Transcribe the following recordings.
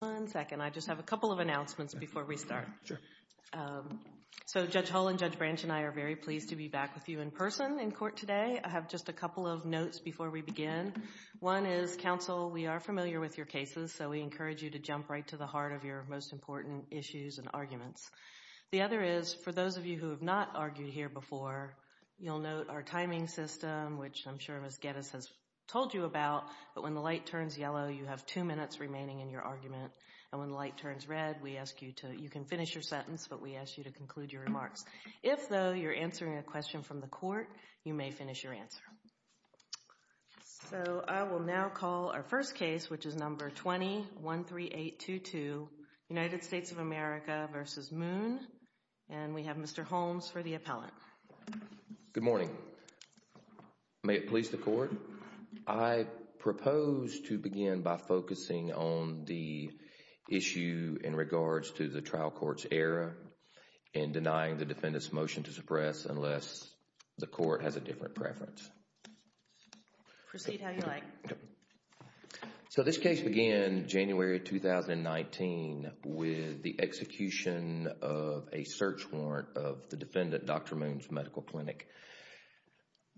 One second, I just have a couple of announcements before we start. So Judge Hull and Judge Branch and I are very pleased to be back with you in person in court today. I have just a couple of notes before we begin. One is, counsel, we are familiar with your cases, so we encourage you to jump right to the heart of your most important issues and arguments. The other is, for those of you who have not argued here before, you'll note our timing system, which I'm sure Ms. Geddes has told you about, but when the light turns yellow, you have two minutes remaining in your argument, and when the light turns red, you can finish your sentence, but we ask you to conclude your remarks. If, though, you're answering a question from the court, you may finish your answer. So I will now call our first case, which is number 20-13822, United States of America v. Moon, and we have Mr. Holmes for the appellant. Good morning. May it please the court. I propose to begin by focusing on the issue in regards to the trial court's error in denying the defendant's motion to suppress unless the court has a different preference. Proceed how you like. So this case began January 2019 with the execution of a search warrant of the defendant, Dr. Holmes,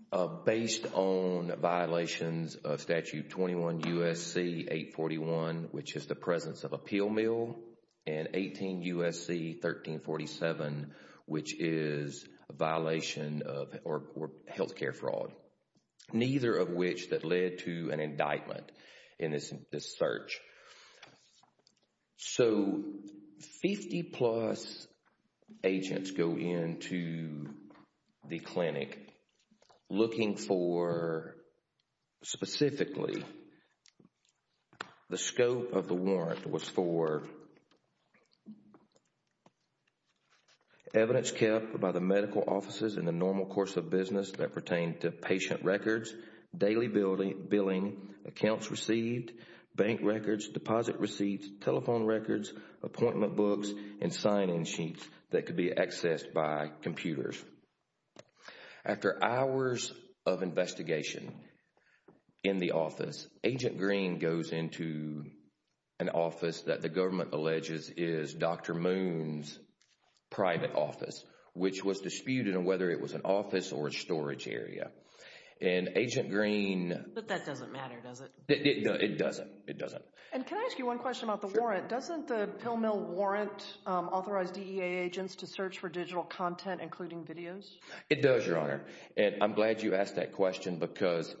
for violations of Statute 21 U.S.C. 841, which is the presence of a pill mill, and 18 U.S.C. 1347, which is a violation of health care fraud, neither of which that led to an indictment in this search. So, 50-plus agents go into the clinic looking for, specifically, the scope of the warrant was for evidence kept by the medical offices in the normal course of business that pertain to patient records, daily billing, accounts received, bank records, deposit receipts, telephone records, appointment books, and sign-in sheets that could be accessed by computers. After hours of investigation in the office, Agent Green goes into an office that the government alleges is Dr. Moon's private office, which was disputed on whether it was an office or not. And Agent Green— But that doesn't matter, does it? It doesn't. It doesn't. And can I ask you one question about the warrant? Sure. Doesn't the pill mill warrant authorized DEA agents to search for digital content, including videos? It does, Your Honor, and I'm glad you asked that question because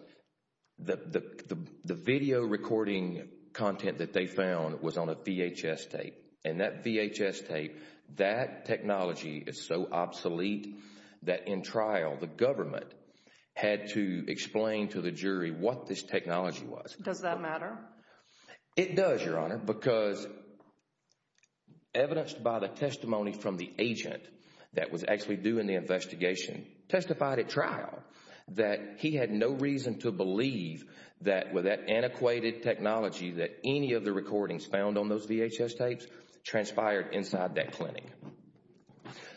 the video recording content that they found was on a VHS tape, and that VHS tape, that technology is so obsolete that in trial, the government had to explain to the jury what this technology was. Does that matter? It does, Your Honor, because evidence by the testimony from the agent that was actually doing the investigation testified at trial that he had no reason to believe that with that antiquated technology that any of the recordings found on those VHS tapes transpired inside that clinic.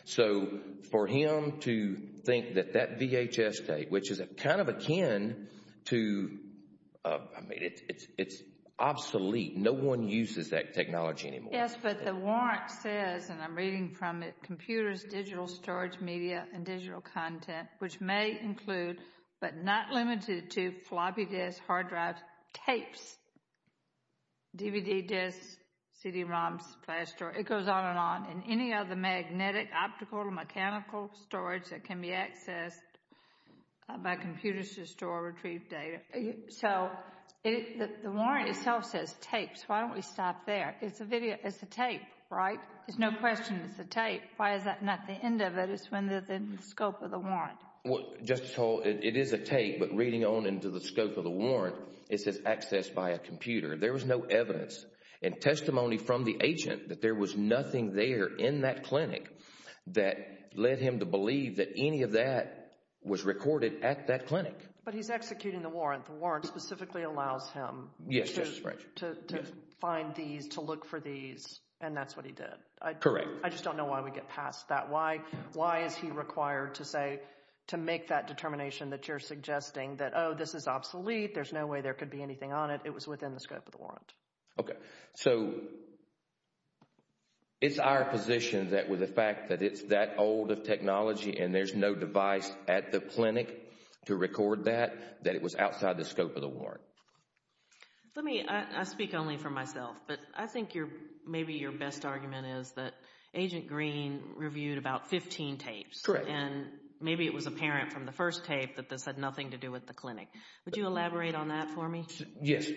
So, for him to think that that VHS tape, which is kind of akin to—I mean, it's obsolete. No one uses that technology anymore. Yes, but the warrant says, and I'm reading from it, computers, digital storage media, and digital content, which may include, but not limited to, floppy disks, hard drives, tapes, DVD disks, CD-ROMs, flash drives—it goes on and on. And any other magnetic, optical, mechanical storage that can be accessed by computers to store or retrieve data. So, the warrant itself says tapes. Why don't we stop there? It's a video. It's a tape, right? There's no question it's a tape. Why is that not the end of it? It's within the scope of the warrant. Well, Justice Hall, it is a tape, but reading on into the scope of the warrant, it says accessed by a computer. There was no evidence and testimony from the agent that there was nothing there in that clinic that led him to believe that any of that was recorded at that clinic. But he's executing the warrant. The warrant specifically allows him to find these, to look for these, and that's what he did. Correct. I just don't know why we get past that. Why is he required to say, to make that determination that you're suggesting that, oh, this is obsolete, there's no way there could be anything on it. It was within the scope of the warrant. Okay. So, it's our position that with the fact that it's that old of technology and there's no device at the clinic to record that, that it was outside the scope of the warrant. Let me, I speak only for myself, but I think maybe your best argument is that Agent Green reviewed about 15 tapes. Correct. And maybe it was apparent from the first tape that this had nothing to do with the clinic. Would you elaborate on that for me? Yes,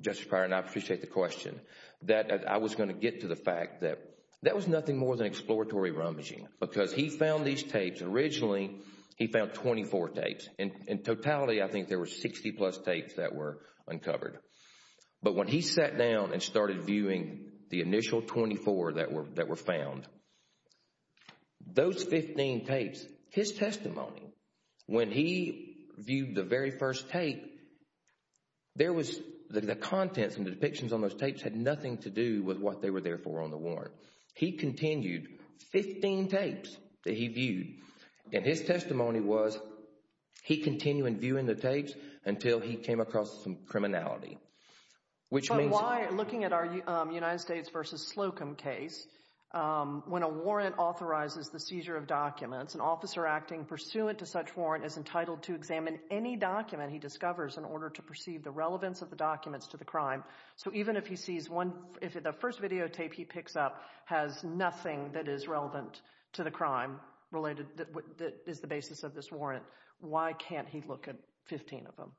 Justice Breyer, and I appreciate the question. That I was going to get to the fact that that was nothing more than exploratory rummaging because he found these tapes, originally he found 24 tapes. In totality, I think there were 60 plus tapes that were uncovered. But when he sat down and started viewing the initial 24 that were found, those 15 tapes, his testimony, when he viewed the very first tape, there was, the contents and the depictions on those tapes had nothing to do with what they were there for on the warrant. He continued 15 tapes that he viewed, and his testimony was, he continued viewing the tapes until he came across some criminality. Which means... But why, looking at our United States v. Slocum case, when a warrant authorizes the seizure of documents, an officer acting pursuant to such warrant is entitled to examine any document he discovers in order to perceive the relevance of the documents to the crime. So even if he sees one, if the first videotape he picks up has nothing that is relevant to the crime related, that is the basis of this warrant, why can't he look at 15 of them?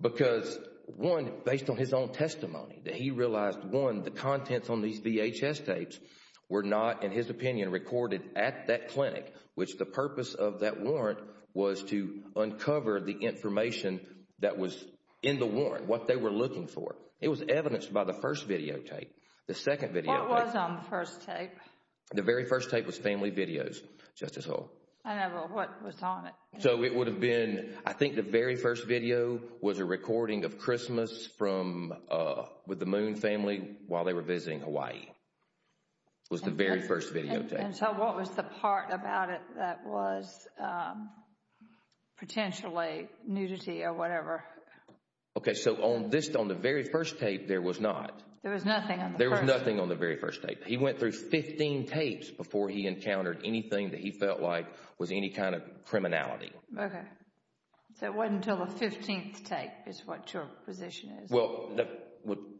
Because one, based on his own testimony, that he realized, one, the contents on these VHS tapes were not, in his opinion, recorded at that clinic, which the purpose of that warrant was to uncover the information that was in the warrant, what they were looking for. It was evidenced by the first videotape. The second videotape... What was on the first tape? The very first tape was family videos, Justice Hull. I never... What was on it? So it would have been, I think the very first video was a recording of Christmas from, with the Moon family while they were visiting Hawaii. Was the very first videotape. And so what was the part about it that was potentially nudity or whatever? Okay, so on this, on the very first tape, there was not. There was nothing on the first? There was nothing on the very first tape. He went through 15 tapes before he encountered anything that he felt like was any kind of criminality. Okay. So it wasn't until the 15th tape is what your position is. Well,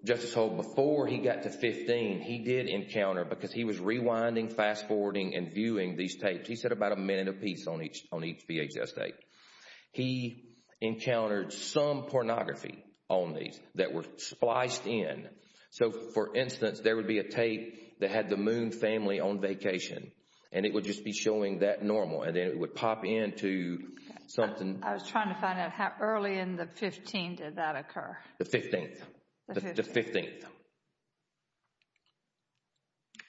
Justice Hull, before he got to 15, he did encounter, because he was rewinding, fast-forwarding and viewing these tapes, he said about a minute apiece on each VHS tape, he encountered some pornography on these that were spliced in. So for instance, there would be a tape that had the Moon family on vacation, and it would just be showing that normal, and then it would pop into something... I was trying to find out how early in the 15th did that occur? The 15th. The 15th.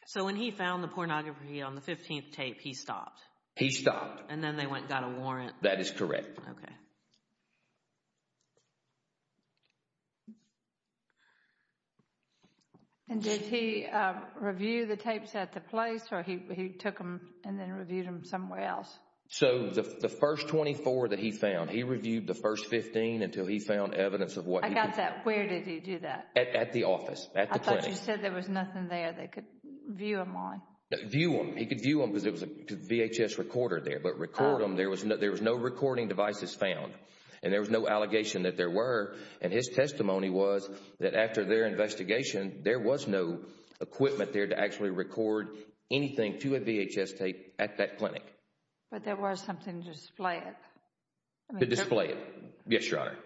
So when he found the pornography on the 15th tape, he stopped? He stopped. And then they went and got a warrant? That is correct. Okay. And did he review the tapes at the place, or he took them and then reviewed them somewhere else? So the first 24 that he found, he reviewed the first 15 until he found evidence of what I got that, where did he do that? At the office, at the clinic. I thought you said there was nothing there they could view them on. View them. He could view them because it was a VHS recorder there, but record them, there was no recording devices found, and there was no allegation that there were. And his testimony was that after their investigation, there was no equipment there to actually record anything to a VHS tape at that clinic. But there was something to display it. To display it. Yes, Your Honor.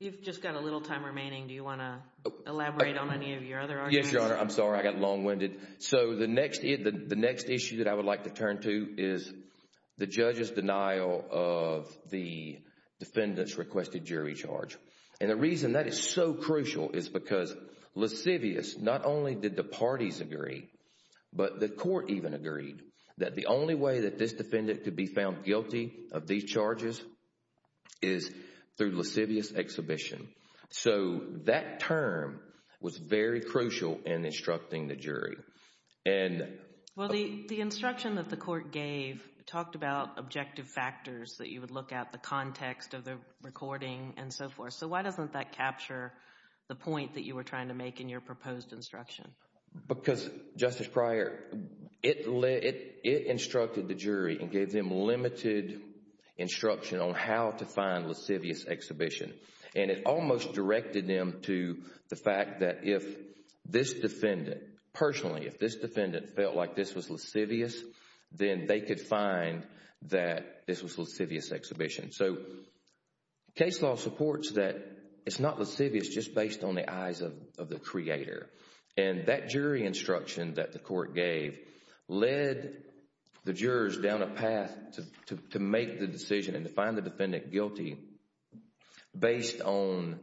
You've just got a little time remaining, do you want to elaborate on any of your other arguments? Yes, Your Honor. I'm sorry, I got long-winded. So the next issue that I would like to turn to is the judge's denial of the defendant's requested jury charge. And the reason that is so crucial is because Lascivious, not only did the parties agree, but the court even agreed that the only way that this defendant could be found guilty of these charges is through Lascivious exhibition. So that term was very crucial in instructing the jury. Well, the instruction that the court gave talked about objective factors that you would look at, the context of the recording and so forth. So why doesn't that capture the point that you were trying to make in your proposed instruction? Because, Justice Pryor, it instructed the jury and gave them limited instruction on how to find Lascivious exhibition. And it almost directed them to the fact that if this defendant, personally, if this defendant felt like this was Lascivious, then they could find that this was Lascivious exhibition. So case law supports that it's not Lascivious just based on the eyes of the creator. And that jury instruction that the court gave led the jurors down a path to make the decision and to find the defendant guilty based on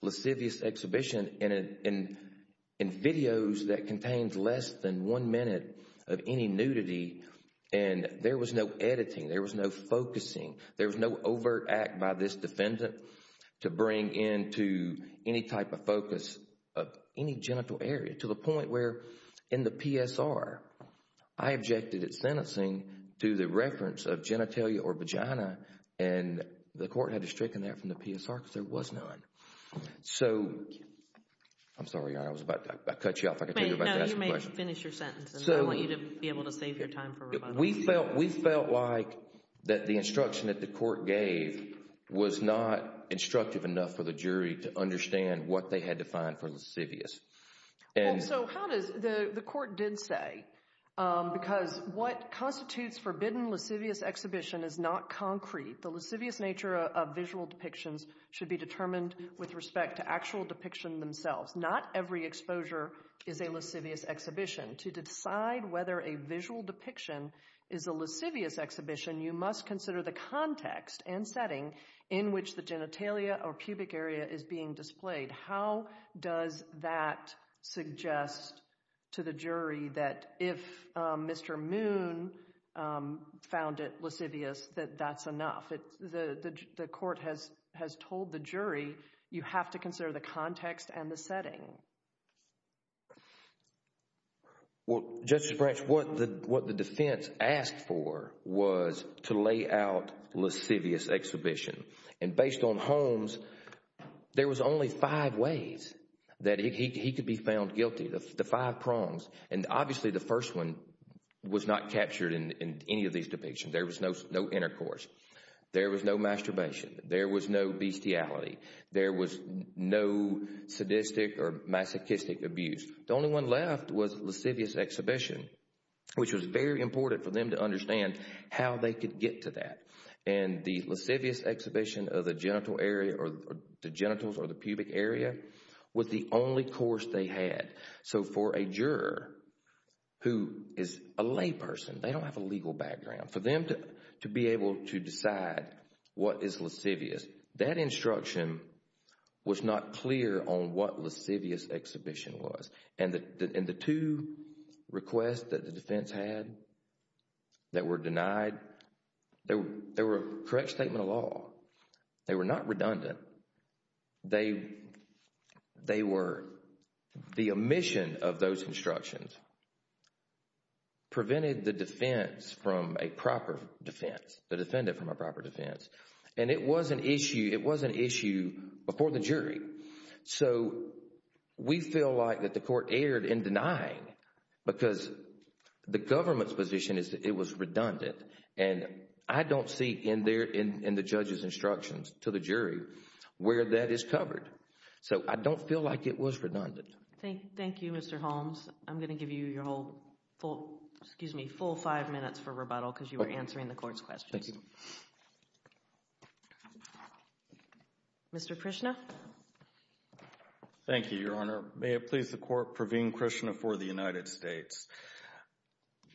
Lascivious exhibition and videos that contained less than one minute of any nudity. And there was no editing, there was no focusing, there was no overt act by this defendant to bring into any type of focus of any genital area to the point where in the PSR, I objected at sentencing to the reference of genitalia or vagina and the court had to stricken that from the PSR because there was none. So I'm sorry, I was about to cut you off, I was about to ask you a question. You may finish your sentence and I want you to be able to save your time for rebuttal. We felt like that the instruction that the court gave was not instructive enough for the jury to understand what they had to find for Lascivious. So how does, the court did say, because what constitutes forbidden Lascivious exhibition is not concrete. The Lascivious nature of visual depictions should be determined with respect to actual depiction themselves. Not every exposure is a Lascivious exhibition. To decide whether a visual depiction is a Lascivious exhibition, you must consider the context and setting in which the genitalia or pubic area is being displayed. How does that suggest to the jury that if Mr. Moon found it Lascivious that that's enough? The court has told the jury you have to consider the context and the setting. Well, Justice Branch, what the defense asked for was to lay out Lascivious exhibition. And based on Holmes, there was only five ways that he could be found guilty, the five prongs. And obviously the first one was not captured in any of these depictions. There was no intercourse. There was no masturbation. There was no bestiality. There was no sadistic or masochistic abuse. The only one left was Lascivious exhibition, which was very important for them to understand how they could get to that. And the Lascivious exhibition of the genital area or the genitals or the pubic area was the only course they had. So for a juror who is a lay person, they don't have a legal background. For them to be able to decide what is Lascivious, that instruction was not clear on what Lascivious exhibition was. And the two requests that the defense had that were denied, they were correct statement of law. They were not redundant. They were, the omission of those instructions prevented the defense from a proper defense, the defendant from a proper defense. And it was an issue, it was an issue before the jury. So we feel like that the court erred in denying because the government's position is that it was redundant. And I don't see in the judge's instructions to the jury where that is covered. So I don't feel like it was redundant. Thank you, Mr. Holmes. I'm going to give you your whole, excuse me, full five minutes for rebuttal because you were answering the court's questions. Mr. Krishna. Thank you, Your Honor. May it please the court, Praveen Krishna for the United States.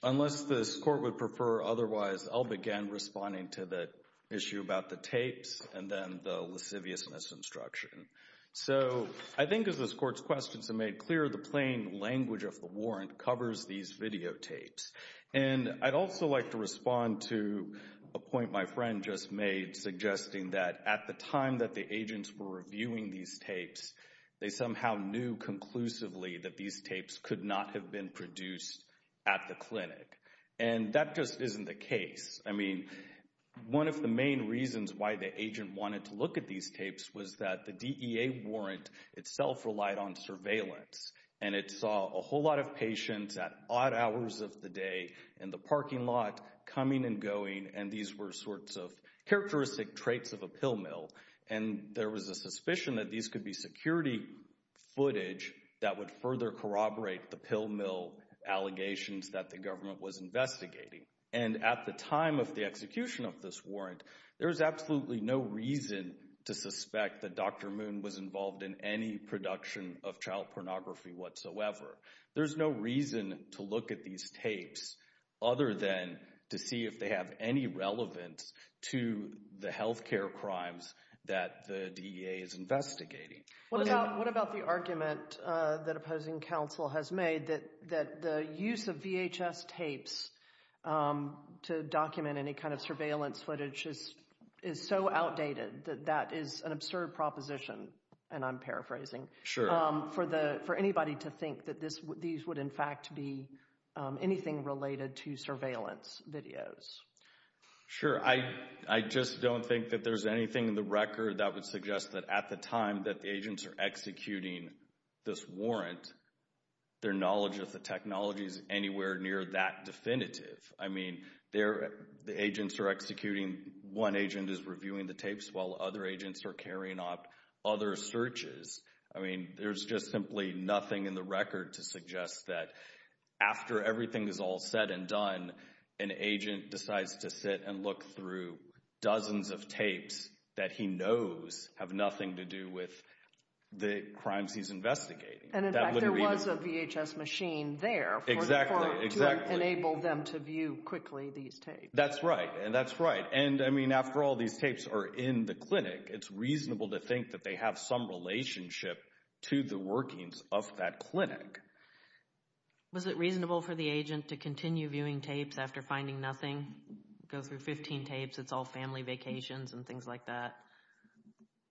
Unless this court would prefer otherwise, I'll begin responding to the issue about the tapes and then the Lasciviousness instruction. So I think as this court's questions are made clear, the plain language of the warrant covers these videotapes. And I'd also like to respond to a point my friend just made suggesting that at the time that the agents were reviewing these tapes, they somehow knew conclusively that these tapes were being used at the clinic. And that just isn't the case. I mean, one of the main reasons why the agent wanted to look at these tapes was that the DEA warrant itself relied on surveillance. And it saw a whole lot of patients at odd hours of the day in the parking lot coming and going. And these were sorts of characteristic traits of a pill mill. And there was a suspicion that these could be security footage that would further corroborate the pill mill allegations that the government was investigating. And at the time of the execution of this warrant, there was absolutely no reason to suspect that Dr. Moon was involved in any production of child pornography whatsoever. There's no reason to look at these tapes other than to see if they have any relevance to the health care crimes that the DEA is investigating. What about the argument that opposing counsel has made that the use of VHS tapes to document any kind of surveillance footage is so outdated that that is an absurd proposition, and I'm paraphrasing, for anybody to think that these would in fact be anything related to surveillance videos? Sure. I just don't think that there's anything in the record that would suggest that at the time that the agents are executing this warrant, their knowledge of the technology is anywhere near that definitive. I mean, the agents are executing, one agent is reviewing the tapes while other agents are carrying out other searches. I mean, there's just simply nothing in the record to suggest that after everything is all said and done, an agent decides to sit and look through dozens of tapes that he knows have nothing to do with the crimes he's investigating. And in fact, there was a VHS machine there to enable them to view quickly these tapes. That's right. And that's right. And I mean, after all these tapes are in the clinic, it's reasonable to think that they have some relationship to the workings of that clinic. Was it reasonable for the agent to continue viewing tapes after finding nothing? Go through 15 tapes, it's all family vacations and things like that.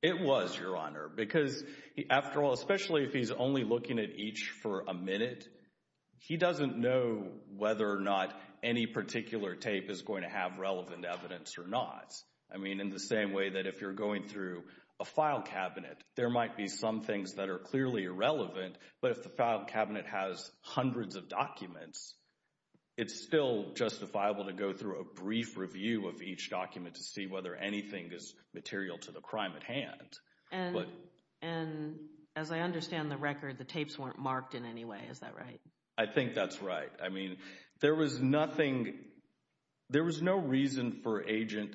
It was, Your Honor, because after all, especially if he's only looking at each for a minute, he doesn't know whether or not any particular tape is going to have relevant evidence or not. I mean, in the same way that if you're going through a file cabinet, there might be some things that are clearly irrelevant, but if the file cabinet has hundreds of documents, it's still justifiable to go through a brief review of each document to see whether anything is material to the crime at hand. And as I understand the record, the tapes weren't marked in any way. Is that right? I think that's right. I mean, there was nothing, there was no reason for agent,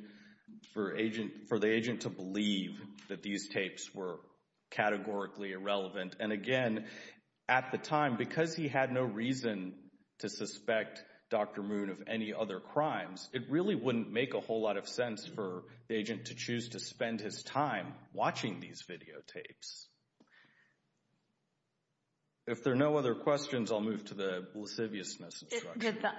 for agent, for the agent to believe that these tapes were categorically irrelevant. And again, at the time, because he had no reason to suspect Dr. Moon of any other crimes, it really wouldn't make a whole lot of sense for the agent to choose to spend his time watching these videotapes. If there are no other questions, I'll move to the lasciviousness instruction. Did the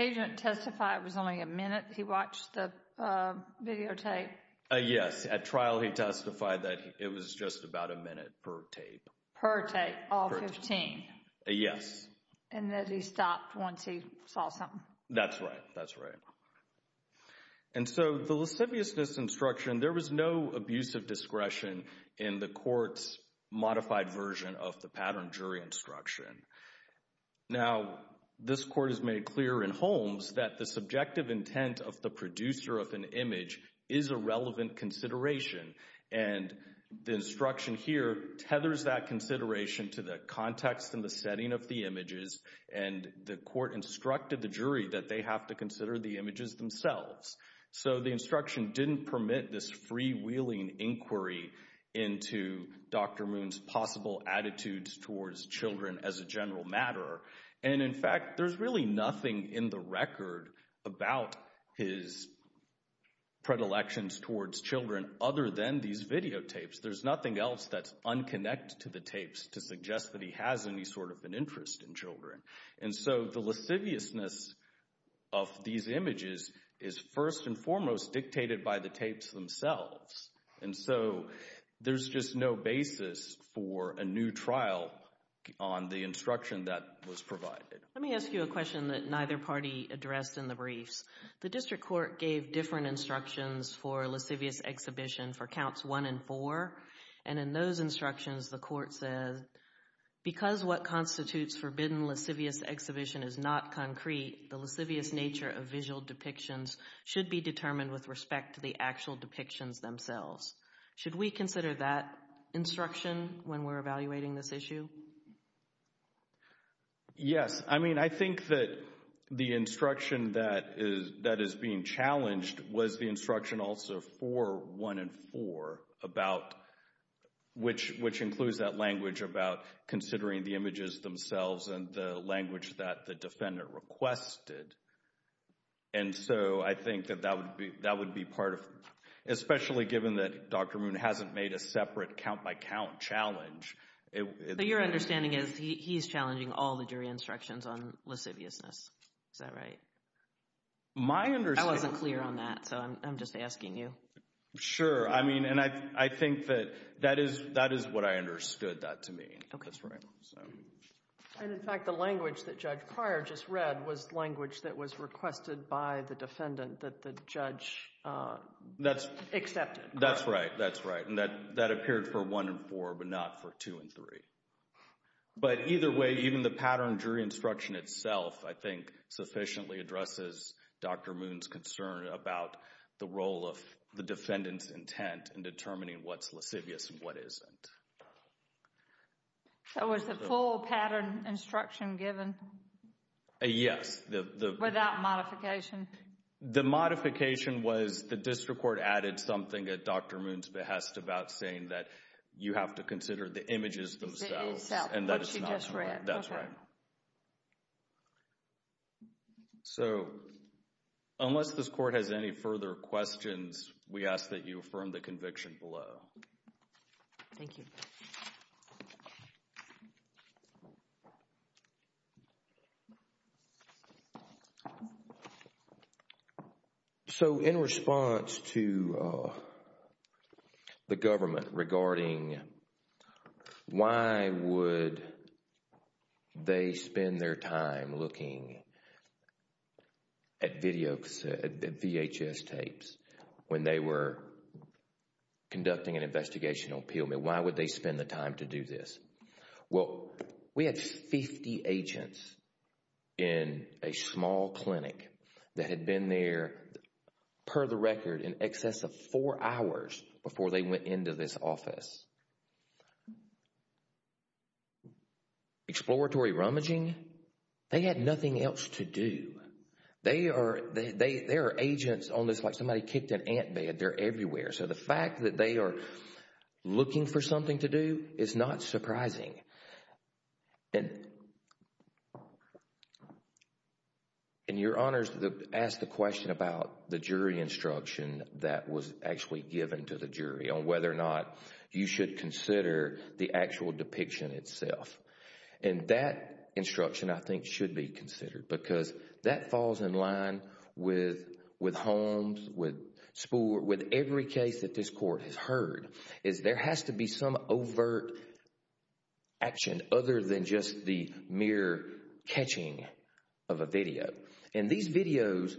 agent testify it was only a minute he watched the videotape? Yes. At trial, he testified that it was just about a minute per tape. Per tape, all 15? Yes. And that he stopped once he saw something? That's right. That's right. And so the lasciviousness instruction, there was no abuse of discretion in the court's modified version of the pattern jury instruction. Now, this court has made clear in Holmes that the subjective intent of the producer of an And the instruction here tethers that consideration to the context and the setting of the images. And the court instructed the jury that they have to consider the images themselves. So the instruction didn't permit this freewheeling inquiry into Dr. Moon's possible attitudes towards children as a general matter. And in fact, there's really nothing in the record about his predilections towards children other than these videotapes. There's nothing else that's unconnected to the tapes to suggest that he has any sort of an interest in children. And so the lasciviousness of these images is first and foremost dictated by the tapes themselves. And so there's just no basis for a new trial on the instruction that was provided. Let me ask you a question that neither party addressed in the briefs. The district court gave different instructions for lascivious exhibition for counts one and four. And in those instructions, the court said, because what constitutes forbidden lascivious exhibition is not concrete, the lascivious nature of visual depictions should be determined with respect to the actual depictions themselves. Should we consider that instruction when we're evaluating this issue? Yes. I mean, I think that the instruction that is being challenged was the instruction also for one and four about, which includes that language about considering the images themselves and the language that the defendant requested. And so I think that that would be part of, especially given that Dr. Moon hasn't made a separate count-by-count challenge. Your understanding is he's challenging all the jury instructions on lasciviousness. Is that right? My understanding... I wasn't clear on that. So I'm just asking you. Sure. I mean, and I think that that is what I understood that to mean. Okay. That's right. And in fact, the language that Judge Pryor just read was language that was requested by the defendant that the judge accepted. That's right. That's right. And that appeared for one and four, but not for two and three. But either way, even the pattern jury instruction itself, I think, sufficiently addresses Dr. Moon's concern about the role of the defendant's intent in determining what's lascivious and what isn't. So was the full pattern instruction given? Yes. Without modification? The modification was the district court added something at Dr. Moon's behest about saying that you have to consider the images themselves. And that is not... What she just read. That's right. Okay. So, unless this court has any further questions, we ask that you affirm the conviction below. Thank you. Thank you. So in response to the government regarding why would they spend their time looking at VHS tapes when they were conducting an investigational appeal? I mean, why would they spend the time to do this? Well, we had 50 agents in a small clinic that had been there, per the record, in excess of four hours before they went into this office. Exploratory rummaging? They had nothing else to do. They are agents on this like somebody kicked an ant bed. They're everywhere. So the fact that they are looking for something to do is not surprising. And your honors asked the question about the jury instruction that was actually given to the jury on whether or not you should consider the actual depiction itself. And that instruction, I think, should be considered because that falls in line with Holmes, with every case that this court has heard, is there has to be some overt action other than just the mere catching of a video. And these videos,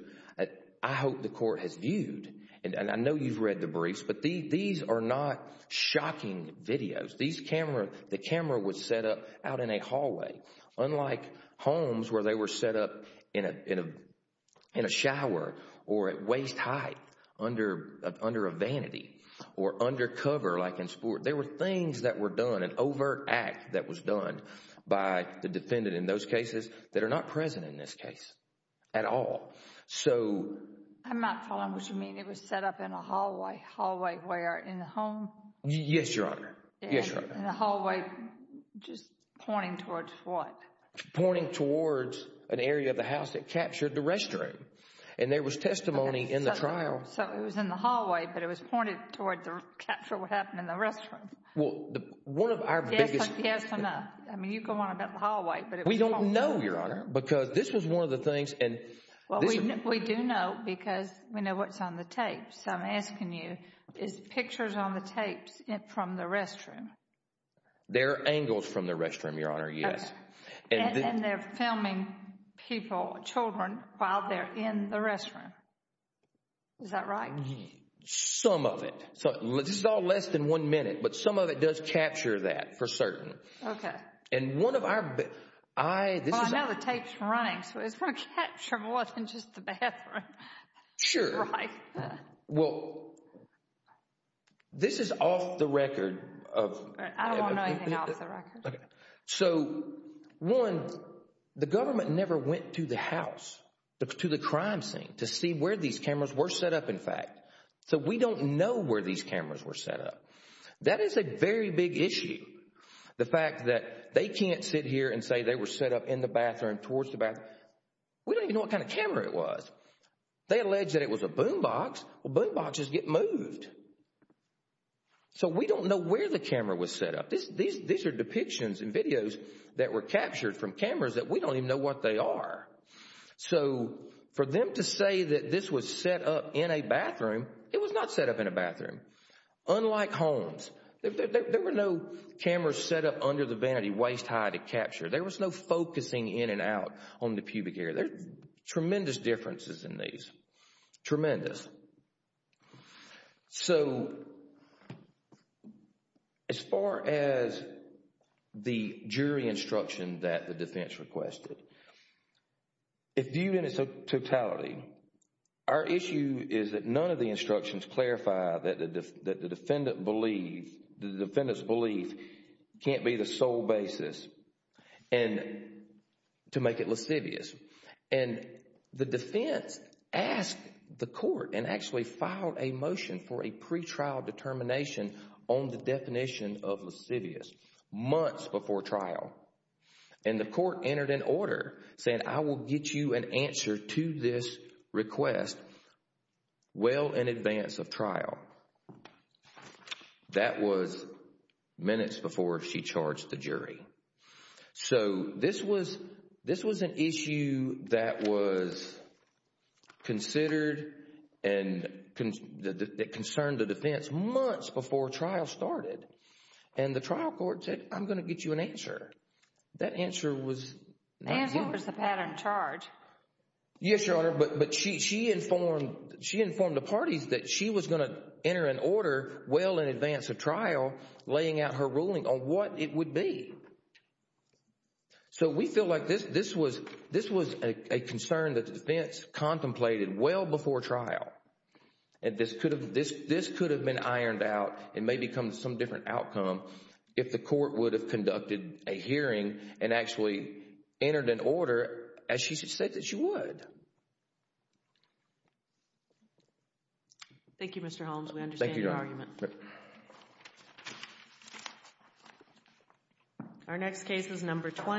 I hope the court has viewed, and I know you've read the briefs, but these are not shocking videos. The camera was set up out in a hallway, unlike Holmes where they were set up in a shower or at waist height under a vanity or undercover like in sport. There were things that were done, an overt act that was done by the defendant in those cases that are not present in this case at all. So... I'm not following what you mean. It was set up in a hallway. Hallway where? In a home? Yes, your honor. Yes, your honor. In a hallway just pointing towards what? Pointing towards an area of the house that captured the restroom. And there was testimony in the trial. So it was in the hallway, but it was pointed towards the capture of what happened in the restroom. Well, one of our biggest... Yes or no? I mean, you go on about the hallway, but it was in the hallway. We don't know, your honor, because this was one of the things and... Well, we do know because we know what's on the tapes. So I'm asking you, is pictures on the tapes from the restroom? They're angles from the restroom, your honor, yes. And they're filming people, children, while they're in the restroom, is that right? Some of it. This is all less than one minute, but some of it does capture that for certain. Okay. And one of our... Well, I know the tape's running, so it's more capturable than just the bathroom, right? Sure. Well, this is off the record of... I don't want to know anything off the record. Okay. So, one, the government never went to the house, to the crime scene, to see where these cameras were set up, in fact. So we don't know where these cameras were set up. That is a very big issue, the fact that they can't sit here and say they were set up in the bathroom, towards the bathroom. We don't even know what kind of camera it was. They alleged that it was a boom box. Well, boom boxes get moved. So we don't know where the camera was set up. These are depictions and videos that were captured from cameras that we don't even know what they are. So for them to say that this was set up in a bathroom, it was not set up in a bathroom. Unlike homes. There were no cameras set up under the vanity, waist high, to capture. There was no focusing in and out on the pubic area. There's tremendous differences in these, tremendous. So, as far as the jury instruction that the defense requested, if viewed in its totality, our issue is that none of the instructions clarify that the defendant's belief can't be the sole basis to make it lascivious. And the defense asked the court and actually filed a motion for a pretrial determination on the definition of lascivious months before trial. And the court entered an order saying, I will get you an answer to this request well in advance of trial. That was minutes before she charged the jury. So, this was an issue that was considered and concerned the defense months before trial started. And the trial court said, I'm going to get you an answer. That answer was not due. As was the pattern charged. Yes, Your Honor, but she informed the parties that she was going to enter an order well in advance of trial, laying out her ruling on what it would be. So, we feel like this was a concern that the defense contemplated well before trial. This could have been ironed out and may become some different outcome if the court would have conducted a hearing and actually entered an order as she said that she would. Thank you, Mr. Holmes. We understand your argument. My pleasure. Thank you. Thank you. Our next case is number 20.